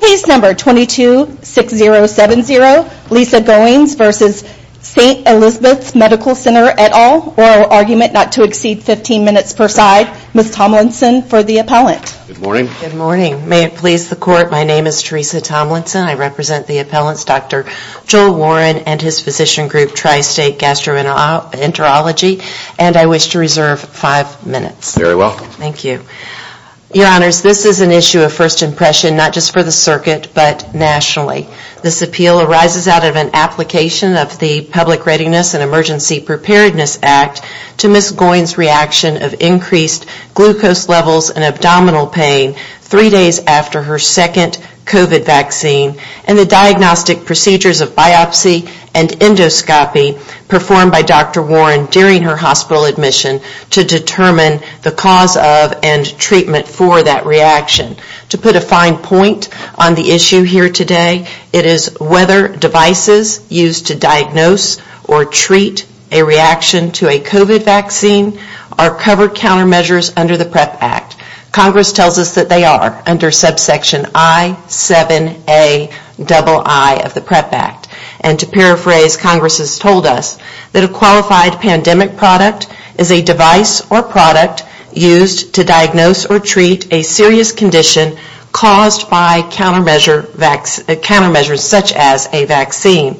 Case number 226070, Lisa Goins v. Saint Elizabeth Medical Center, et al., oral argument not to exceed 15 minutes per side, Ms. Tomlinson for the appellant. Good morning. Good morning. May it please the court, my name is Teresa Tomlinson. I represent the appellant's Dr. Joel Warren and his physician group Tri-State Gastroenterology and I wish to reserve 5 minutes. Very welcome. Thank you. Your honors, this is an issue of first impression not just for the circuit but nationally. This appeal arises out of an application of the Public Readiness and Emergency Preparedness Act to Ms. Goins' reaction of increased glucose levels and abdominal pain 3 days after her second COVID vaccine and the diagnostic procedures of biopsy and endoscopy performed by Dr. Warren during her hospital admission to determine the cause of and treatment for that reaction. To put a fine point on the issue here today, it is whether devices used to diagnose or treat a reaction to a COVID vaccine are covered countermeasures under the PrEP Act. Congress tells us that they are under subsection I7AII of the PrEP Act and to paraphrase, Congress has told us that a qualified pandemic product is a device or product used to diagnose or treat a serious condition caused by countermeasures such as a vaccine.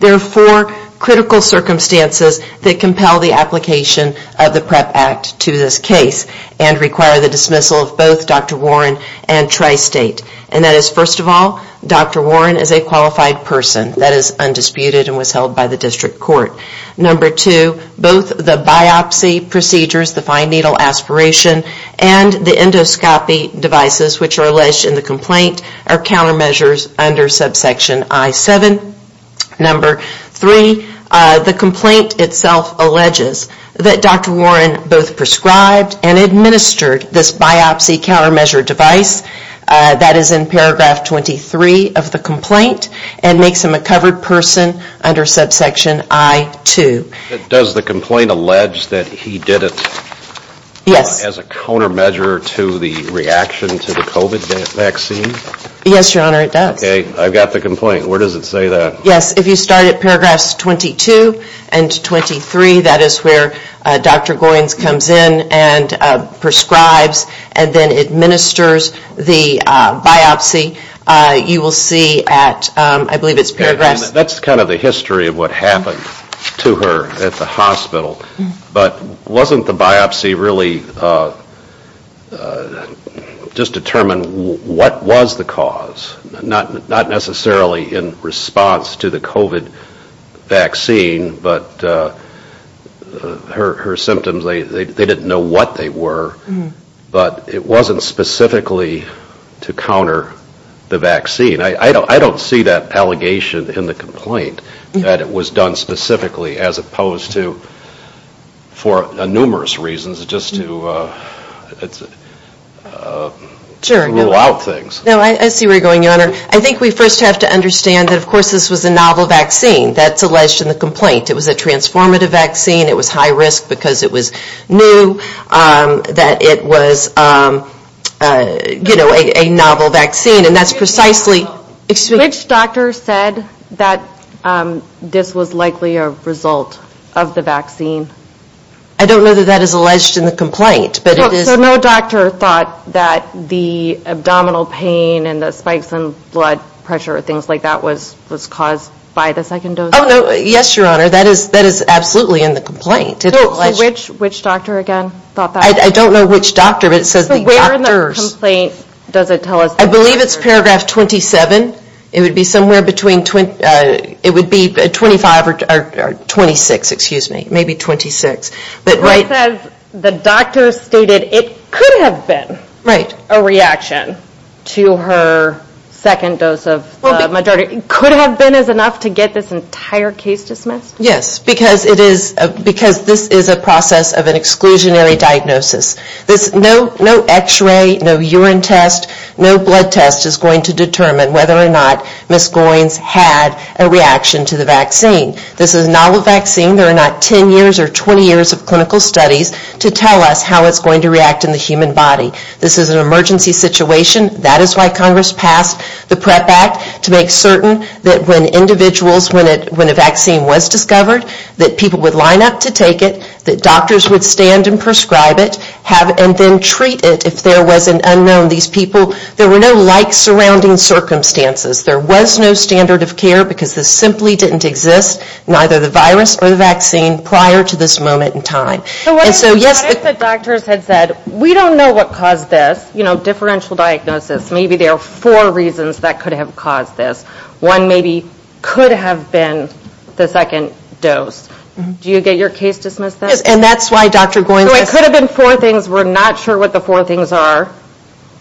There are 4 critical circumstances that compel the application of the PrEP Act to this case and require the dismissal of both Dr. Warren and Tri-State. And that is first of all, Dr. Warren is a qualified person. That is undisputed and was held by the district court. Number two, both the biopsy procedures, the fine needle aspiration and the endoscopy devices which are alleged in the complaint are countermeasures under subsection I7. Number three, the complaint itself alleges that Dr. Warren both prescribed and administered this biopsy countermeasure device. That is in paragraph 23 of the complaint and makes him a covered person under subsection I2. Does the complaint allege that he did it as a countermeasure to the reaction to the COVID vaccine? Yes, your honor, it does. Okay, I've got the complaint. Where does it say that? Yes, if you start at paragraphs 22 and 23, that is where Dr. Goins comes in and prescribes and then administers the biopsy, you will see at, I believe it's paragraphs... That's kind of the history of what happened to her at the hospital. But wasn't the biopsy really just determined what was the cause? Not necessarily in response to the COVID vaccine, but her symptoms, they didn't know what they were. But it wasn't specifically to counter the vaccine. I don't see that allegation in the complaint that it was done specifically as opposed to for numerous reasons just to rule out things. No, I see where you're going, your honor. I think we first have to understand that of course this was a novel vaccine that's alleged in the complaint. It was a transformative vaccine, it was high risk because it was new, that it was a novel vaccine. And that's precisely... Which doctor said that this was likely a result of the vaccine? I don't know that that is alleged in the complaint, but it is... So no doctor thought that the abdominal pain and the spikes in blood pressure or things like that was caused by the second dose? Yes, your honor, that is absolutely in the complaint. So which doctor again thought that? I don't know which doctor, but it says the doctors... So where in the complaint does it tell us... I believe it's paragraph 27. It would be somewhere between... It would be 25 or 26, excuse me, maybe 26. It says the doctor stated it could have been a reaction to her second dose of the majority. Could have been enough to get this entire case dismissed? Yes, because this is a process of an exclusionary diagnosis. No x-ray, no urine test, no blood test is going to determine whether or not Ms. Goins had a reaction to the vaccine. This is a novel vaccine. There are not 10 years or 20 years of clinical studies to tell us how it's going to react in the human body. This is an emergency situation. That is why Congress passed the PrEP Act to make certain that when individuals, when a vaccine was discovered, that people would line up to take it, that doctors would stand and prescribe it and then treat it if there was an unknown. These people, there were no like surrounding circumstances. There was no standard of care because this simply didn't exist, neither the virus or the vaccine prior to this moment in time. So what if the doctors had said, we don't know what caused this, you know, differential diagnosis. Maybe there are four reasons that could have caused this. One maybe could have been the second dose. Do you get your case dismissed then? Yes, and that's why Dr. Goins... It could have been four things. We're not sure what the four things are.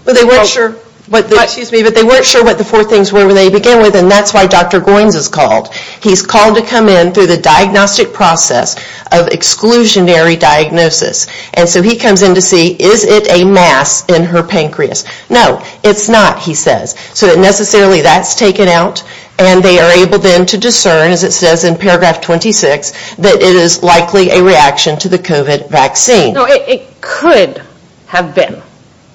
They weren't sure what the four things were when they began with, and that's why Dr. Goins is called. He's called to come in through the diagnostic process of exclusionary diagnosis. And so he comes in to see, is it a mass in her pancreas? No, it's not, he says. So that necessarily that's taken out, and they are able then to discern, as it says in paragraph 26, that it is likely a reaction to the COVID vaccine. No, it could have been.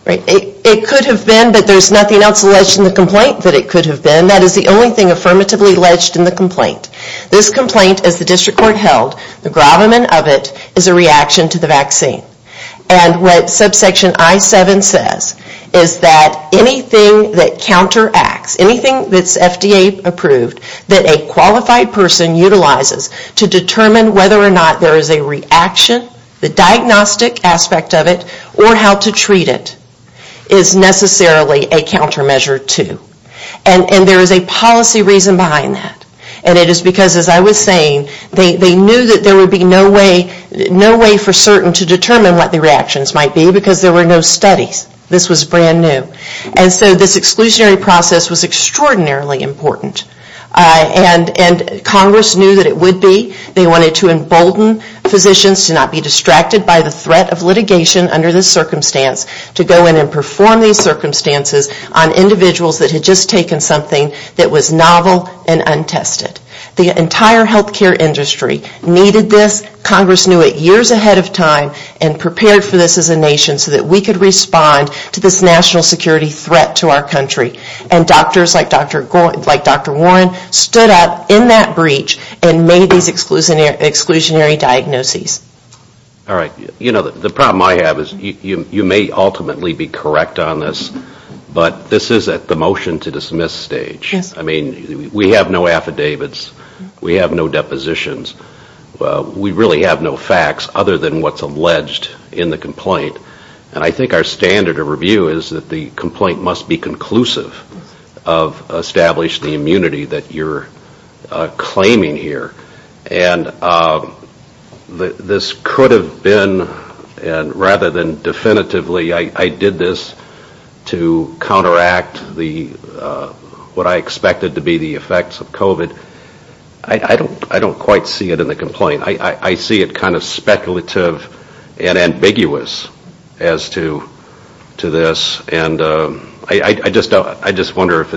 It could have been, but there's nothing else alleged in the complaint that it could have been. That is the only thing affirmatively alleged in the complaint. This complaint, as the district court held, the gravamen of it is a reaction to the vaccine. And what subsection I-7 says is that anything that counteracts, anything that's FDA approved, that a qualified person utilizes to determine whether or not there is a reaction, the diagnostic aspect of it, or how to treat it, is necessarily a countermeasure to. And there is a policy reason behind that, and it is because, as I was saying, they knew that there would be no way for certain to determine what the reactions might be because there were no studies. This was brand new. And so this exclusionary process was extraordinarily important. And Congress knew that it would be. They wanted to embolden physicians to not be distracted by the threat of litigation under this circumstance, to go in and perform these circumstances on individuals that had just taken something that was novel and untested. The entire health care industry needed this. Congress knew it years ahead of time and prepared for this as a nation so that we could respond to this national security threat to our country. And doctors like Dr. Warren stood up in that breach and made these exclusionary diagnoses. All right. You know, the problem I have is you may ultimately be correct on this, but this is at the motion to dismiss stage. I mean, we have no affidavits. We have no depositions. We really have no facts other than what's alleged in the complaint. And I think our standard of review is that the complaint must be conclusive of establishing the immunity that you're claiming here. And this could have been, rather than definitively, I did this to counteract what I expected to be the effects of COVID. I don't quite see it in the complaint. I see it kind of speculative and ambiguous as to this. And I just wonder if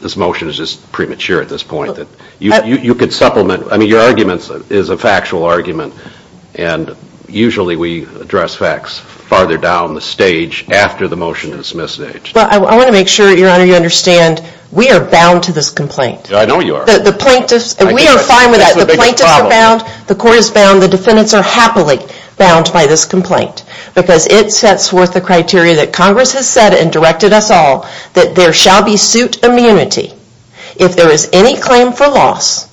this motion is just premature at this point. You could supplement. I mean, your argument is a factual argument. And usually we address facts farther down the stage after the motion to dismiss stage. Well, I want to make sure, Your Honor, you understand we are bound to this complaint. I know you are. We are fine with that. The plaintiffs are bound. The court is bound. The defendants are happily bound by this complaint because it sets forth the criteria that Congress has set and directed us all, that there shall be suit immunity if there is any claim for loss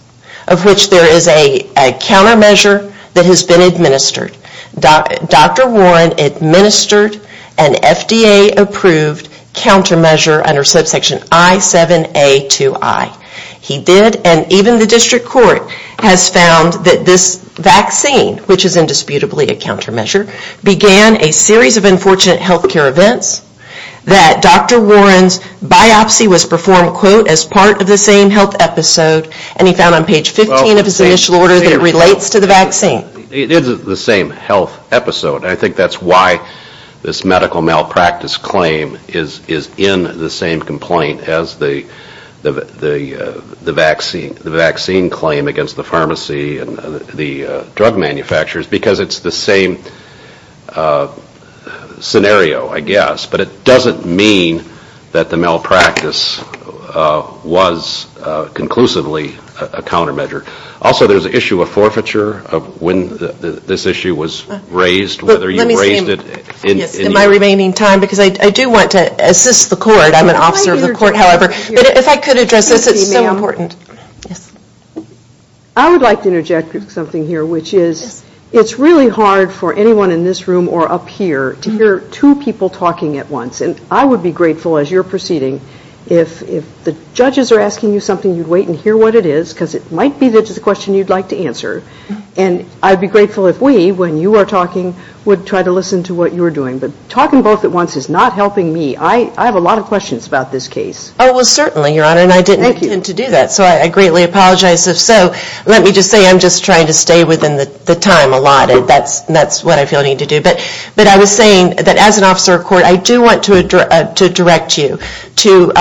of which there is a countermeasure that has been administered. Dr. Warren administered an FDA-approved countermeasure under subsection I7A2I. He did, and even the district court has found that this vaccine, which is indisputably a countermeasure, began a series of unfortunate health care events that Dr. Warren's biopsy was performed, quote, as part of the same health episode, and he found on page 15 of his initial order that it relates to the vaccine. It is the same health episode. I think that is why this medical malpractice claim is in the same complaint as the vaccine claim against the pharmacy and the drug manufacturers because it is the same scenario, I guess, but it doesn't mean that the malpractice was conclusively a countermeasure. Also, there is an issue of forfeiture of when this issue was raised, whether you raised it in your... In my remaining time, because I do want to assist the court. I am an officer of the court, however. If I could address this, it is so important. I would like to interject something here, which is it is really hard for anyone in this room or up here to hear two people talking at once, and I would be grateful as you are proceeding if the judges are asking you something, you would wait and hear what it is because it might be the question you would like to answer, and I would be grateful if we, when you are talking, would try to listen to what you are doing, but talking both at once is not helping me. I have a lot of questions about this case. Oh, well, certainly, Your Honor, and I didn't intend to do that, so I greatly apologize if so. Let me just say I'm just trying to stay within the time allotted. That's what I feel I need to do. But I was saying that as an officer of court, I do want to direct you to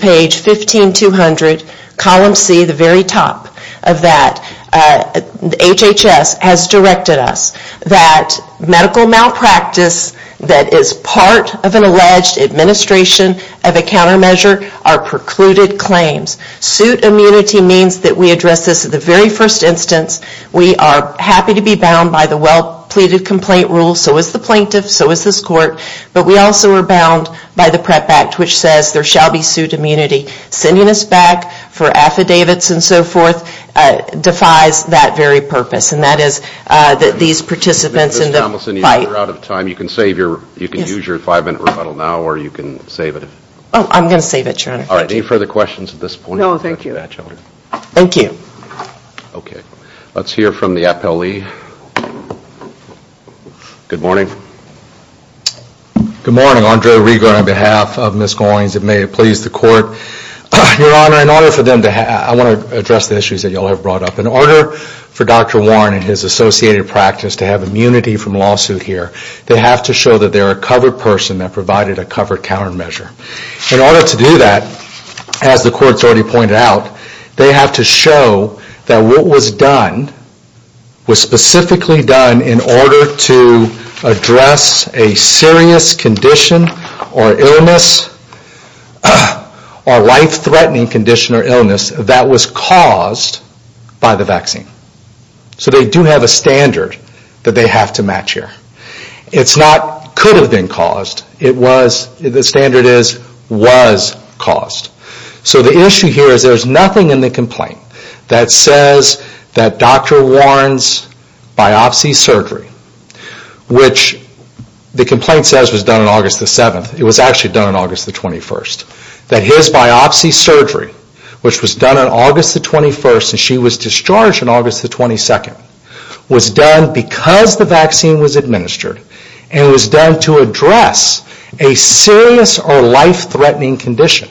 page 15200, column C, the very top of that. HHS has directed us that medical malpractice that is part of an alleged administration of a countermeasure are precluded claims. Suit immunity means that we address this at the very first instance. We are happy to be bound by the well-pleaded complaint rule, so is the plaintiff, so is this court, but we also are bound by the PrEP Act, which says there shall be suit immunity. Sending us back for affidavits and so forth defies that very purpose, and that is that these participants in the fight. Ms. Tomlinson, you're out of time. You can use your five-minute rebuttal now, or you can save it. Oh, I'm going to save it, Your Honor. All right, any further questions at this point? No, thank you. Thank you. Okay, let's hear from the appellee. Good morning. Good morning. Andre Rigo on behalf of Ms. Goins, and may it please the court. Your Honor, I want to address the issues that you all have brought up. In order for Dr. Warren and his associated practice to have immunity from lawsuit here, they have to show that they're a covered person that provided a covered countermeasure. In order to do that, as the courts already pointed out, they have to show that what was done was specifically done in order to address a serious condition or illness or life-threatening condition or illness that was caused by the vaccine. So they do have a standard that they have to match here. It's not could have been caused. The standard is was caused. So the issue here is there's nothing in the complaint that says that Dr. Warren's biopsy surgery, which the complaint says was done on August the 7th, it was actually done on August the 21st, that his biopsy surgery, which was done on August the 21st and she was discharged on August the 22nd, was done because the vaccine was administered and was done to address a serious or life-threatening condition.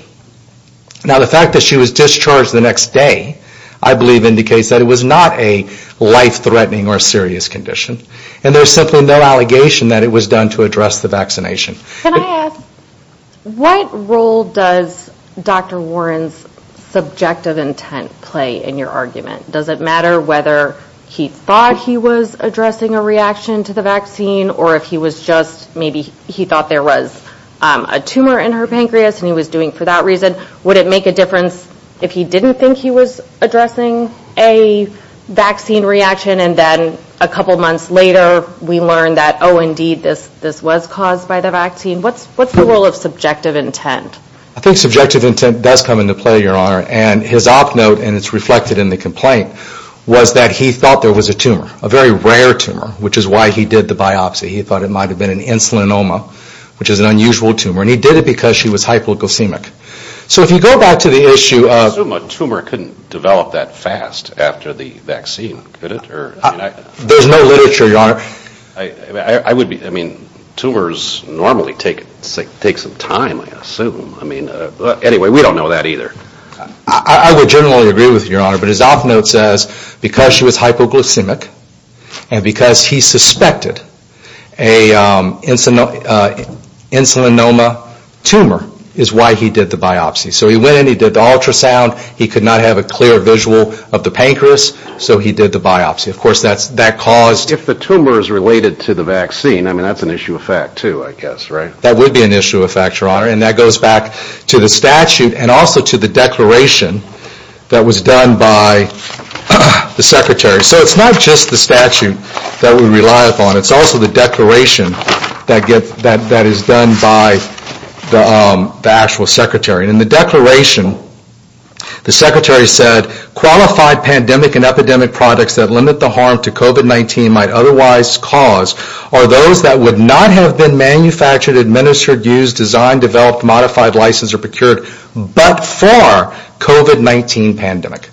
Now, the fact that she was discharged the next day, I believe indicates that it was not a life-threatening or serious condition. And there's simply no allegation that it was done to address the vaccination. Can I ask, what role does Dr. Warren's subjective intent play in your argument? Does it matter whether he thought he was addressing a reaction to the vaccine or if he was just maybe he thought there was a tumor in her pancreas and he was doing it for that reason? Would it make a difference if he didn't think he was addressing a vaccine reaction and then a couple months later we learned that, oh, indeed, this was caused by the vaccine? What's the role of subjective intent? I think subjective intent does come into play, Your Honor. And his op note, and it's reflected in the complaint, was that he thought there was a tumor, a very rare tumor, which is why he did the biopsy. He thought it might have been an insulinoma, which is an unusual tumor, and he did it because she was hypoglycemic. So if you go back to the issue of – I assume a tumor couldn't develop that fast after the vaccine, could it? There's no literature, Your Honor. I mean, tumors normally take some time, I assume. Anyway, we don't know that either. I would generally agree with you, Your Honor, but his op note says because she was hypoglycemic and because he suspected an insulinoma tumor is why he did the biopsy. So he went in, he did the ultrasound, he could not have a clear visual of the pancreas, so he did the biopsy. Of course, that caused – If the tumor is related to the vaccine, I mean, that's an issue of fact too, I guess, right? That would be an issue of fact, Your Honor, and that goes back to the statute and also to the declaration that was done by the Secretary. So it's not just the statute that we rely upon. It's also the declaration that is done by the actual Secretary. In the declaration, the Secretary said, Qualified pandemic and epidemic products that limit the harm to COVID-19 might otherwise cause are those that would not have been manufactured, administered, used, designed, developed, modified, licensed, or procured but for COVID-19 pandemic.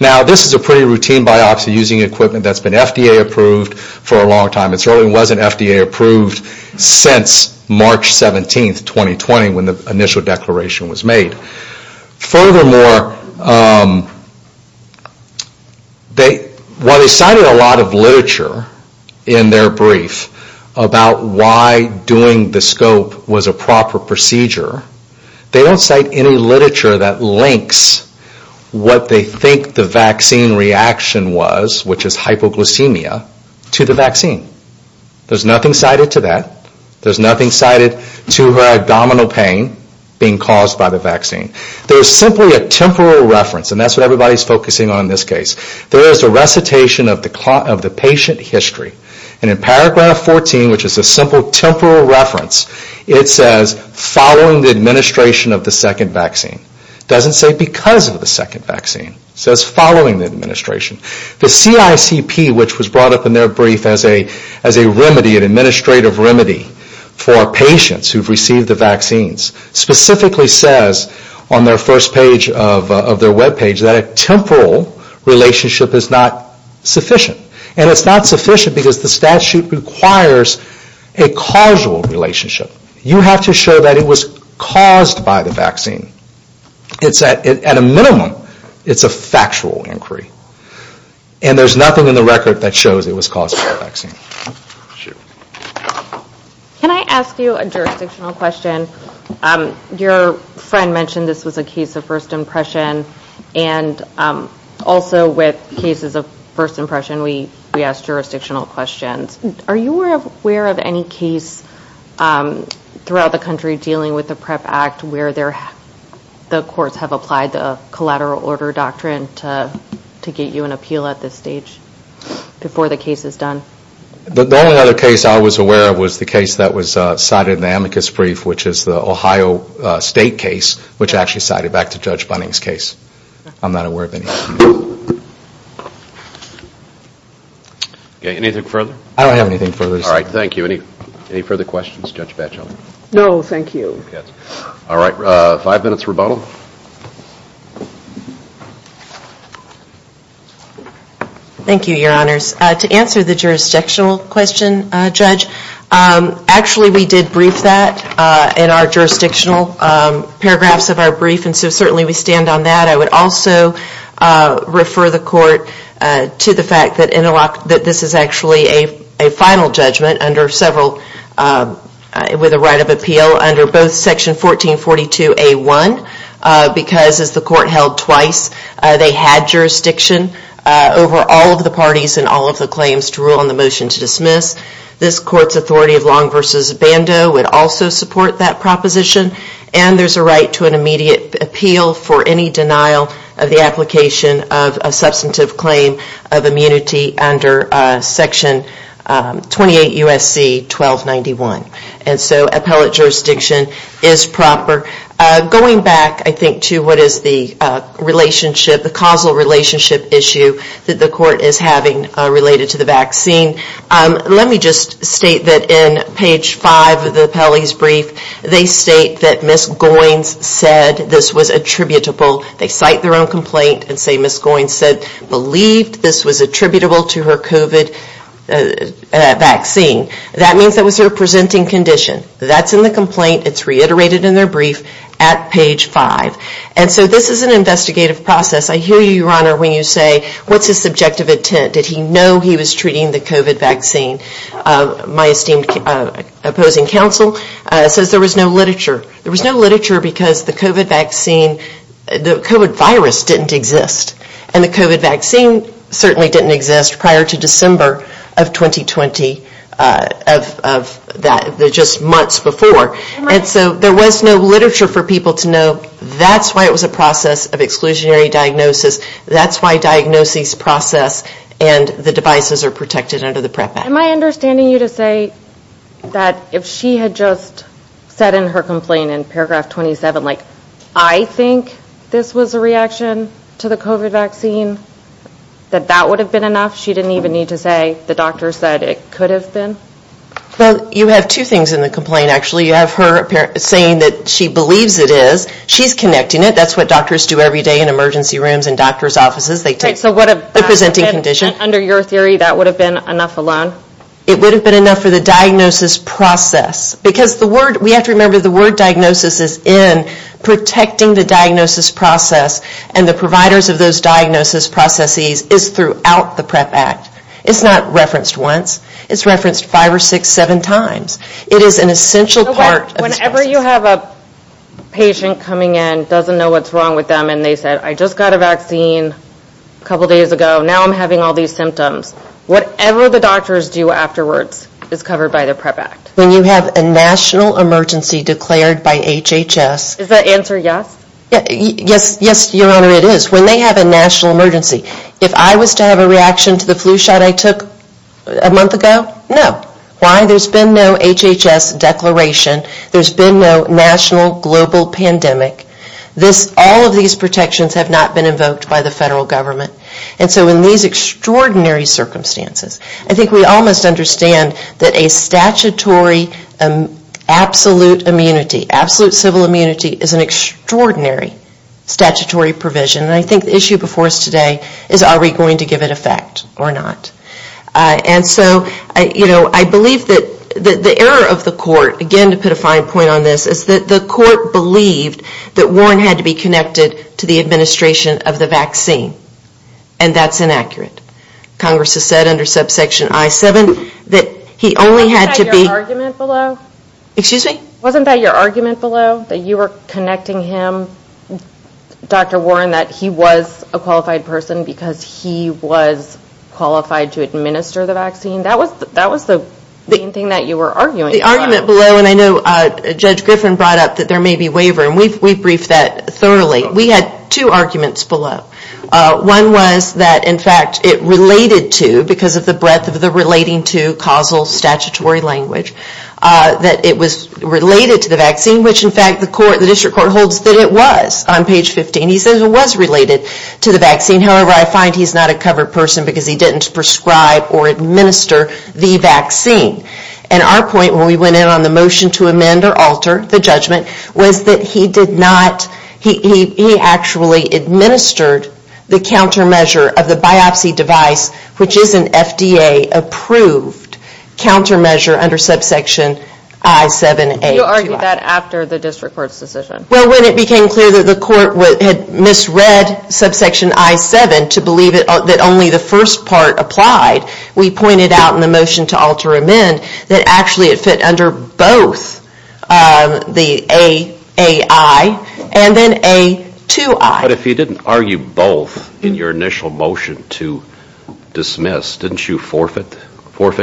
Now, this is a pretty routine biopsy using equipment that's been FDA-approved for a long time. It certainly wasn't FDA-approved since March 17, 2020, when the initial declaration was made. Furthermore, while they cited a lot of literature in their brief about why doing the scope was a proper procedure, they don't cite any literature that links what they think the vaccine reaction was, which is hypoglycemia, to the vaccine. There's nothing cited to that. There's nothing cited to her abdominal pain being caused by the vaccine. There's simply a temporal reference, and that's what everybody's focusing on in this case. There is a recitation of the patient history. And in paragraph 14, which is a simple temporal reference, it says following the administration of the second vaccine. It doesn't say because of the second vaccine. It says following the administration. The CICP, which was brought up in their brief as a remedy, an administrative remedy, for patients who've received the vaccines, specifically says on their first page of their webpage that a temporal relationship is not sufficient. And it's not sufficient because the statute requires a causal relationship. You have to show that it was caused by the vaccine. At a minimum, it's a factual inquiry. And there's nothing in the record that shows it was caused by the vaccine. Can I ask you a jurisdictional question? Your friend mentioned this was a case of first impression, and also with cases of first impression, we ask jurisdictional questions. Are you aware of any case throughout the country dealing with the PREP Act where the courts have applied the collateral order doctrine to get you an appeal at this stage before the case is done? The only other case I was aware of was the case that was cited in the amicus brief, which is the Ohio State case, which actually cited back to Judge Bunning's case. I'm not aware of any. Anything further? I don't have anything further to say. All right, thank you. Any further questions, Judge Batchel? No, thank you. All right, five minutes rebuttal. Thank you, Your Honors. To answer the jurisdictional question, Judge, actually we did brief that in our jurisdictional paragraphs of our brief, and so certainly we stand on that. I would also refer the Court to the fact that this is actually a final judgment with a right of appeal under both Section 1442A1, because as the Court held twice, they had jurisdiction over all of the parties and all of the claims to rule on the motion to dismiss. This Court's authority of Long v. Bando would also support that proposition, and there's a right to an immediate appeal for any denial of the application of a substantive claim of immunity under Section 28 U.S.C. 1291. And so appellate jurisdiction is proper. Going back, I think, to what is the causal relationship issue that the Court is having related to the vaccine, let me just state that in page 5 of the appellee's brief, they state that Ms. Goins said this was attributable. They cite their own complaint and say Ms. Goins said, believed this was attributable to her COVID vaccine. That means that was her presenting condition. That's in the complaint. It's reiterated in their brief at page 5. And so this is an investigative process. I hear you, Your Honor, when you say, what's his subjective intent? Did he know he was treating the COVID vaccine? My esteemed opposing counsel says there was no literature. There was no literature because the COVID vaccine, the COVID virus didn't exist. And the COVID vaccine certainly didn't exist prior to December of 2020, just months before. And so there was no literature for people to know that's why it was a process of exclusionary diagnosis. That's why diagnoses process and the devices are protected under the PREP Act. Am I understanding you to say that if she had just said in her complaint in paragraph 27, like, I think this was a reaction to the COVID vaccine, that that would have been enough? She didn't even need to say the doctor said it could have been? Well, you have two things in the complaint, actually. You have her saying that she believes it is. She's connecting it. That's what doctors do every day in emergency rooms and doctor's offices. They take the presenting condition. And under your theory, that would have been enough alone? It would have been enough for the diagnosis process. Because the word, we have to remember the word diagnosis is in protecting the diagnosis process. And the providers of those diagnosis processes is throughout the PREP Act. It's not referenced once. It's referenced five or six, seven times. It is an essential part. Whenever you have a patient coming in, doesn't know what's wrong with them. And they said, I just got a vaccine a couple days ago. Now I'm having all these symptoms. Whatever the doctors do afterwards is covered by the PREP Act. When you have a national emergency declared by HHS. Is that answer yes? Yes, Your Honor, it is. When they have a national emergency. If I was to have a reaction to the flu shot I took a month ago, no. Why? There's been no HHS declaration. There's been no national global pandemic. All of these protections have not been invoked by the federal government. And so in these extraordinary circumstances. I think we all must understand that a statutory absolute immunity. Absolute civil immunity is an extraordinary statutory provision. And I think the issue before us today is are we going to give it effect or not. And so, you know, I believe that the error of the court, again to put a fine point on this. Is that the court believed that Warren had to be connected to the administration of the vaccine. And that's inaccurate. Congress has said under subsection I-7 that he only had to be. Wasn't that your argument below? Excuse me? Wasn't that your argument below that you were connecting him, Dr. Warren. That he was a qualified person because he was qualified to administer the vaccine. That was the main thing that you were arguing about. The argument below and I know Judge Griffin brought up that there may be waiver. And we briefed that thoroughly. We had two arguments below. One was that in fact it related to because of the breadth of the relating to causal statutory language. That it was related to the vaccine which in fact the court, the district court holds that it was on page 15. He says it was related to the vaccine. However, I find he's not a covered person because he didn't prescribe or administer the vaccine. And our point when we went in on the motion to amend or alter the judgment was that he did not. He actually administered the countermeasure of the biopsy device which is an FDA approved countermeasure under subsection I-7A. You argued that after the district court's decision. Well when it became clear that the court had misread subsection I-7 to believe that only the first part applied. We pointed out in the motion to alter amend that actually it fit under both the A-A-I and then A-2-I. But if he didn't argue both in your initial motion to dismiss, didn't you forfeit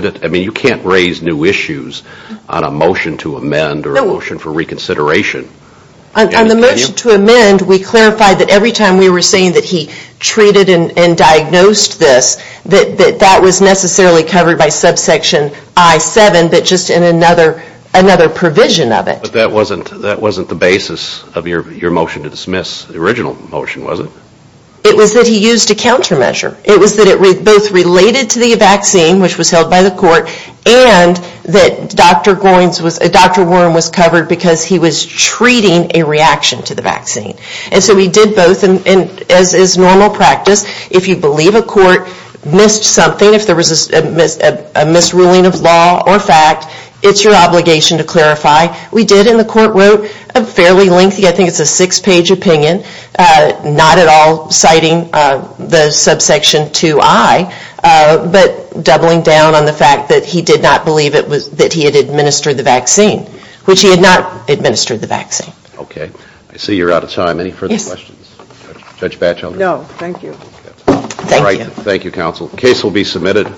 it? I mean you can't raise new issues on a motion to amend or a motion for reconsideration. On the motion to amend, we clarified that every time we were saying that he treated and diagnosed this, that that was necessarily covered by subsection I-7 but just in another provision of it. But that wasn't the basis of your motion to dismiss, the original motion was it? It was that he used a countermeasure. It was that it both related to the vaccine which was held by the court and that Dr. Warren was covered because he was treating a reaction to the vaccine. And so we did both and as is normal practice, if you believe a court missed something, if there was a misruling of law or fact, it's your obligation to clarify. We did in the court wrote a fairly lengthy, I think it's a six-page opinion, not at all citing the subsection II-I, but doubling down on the fact that he did not believe that he had administered the vaccine, which he had not administered the vaccine. Okay. I see you're out of time. Any further questions? Judge Batchelder? No, thank you. Thank you. Thank you, counsel. Case will be submitted.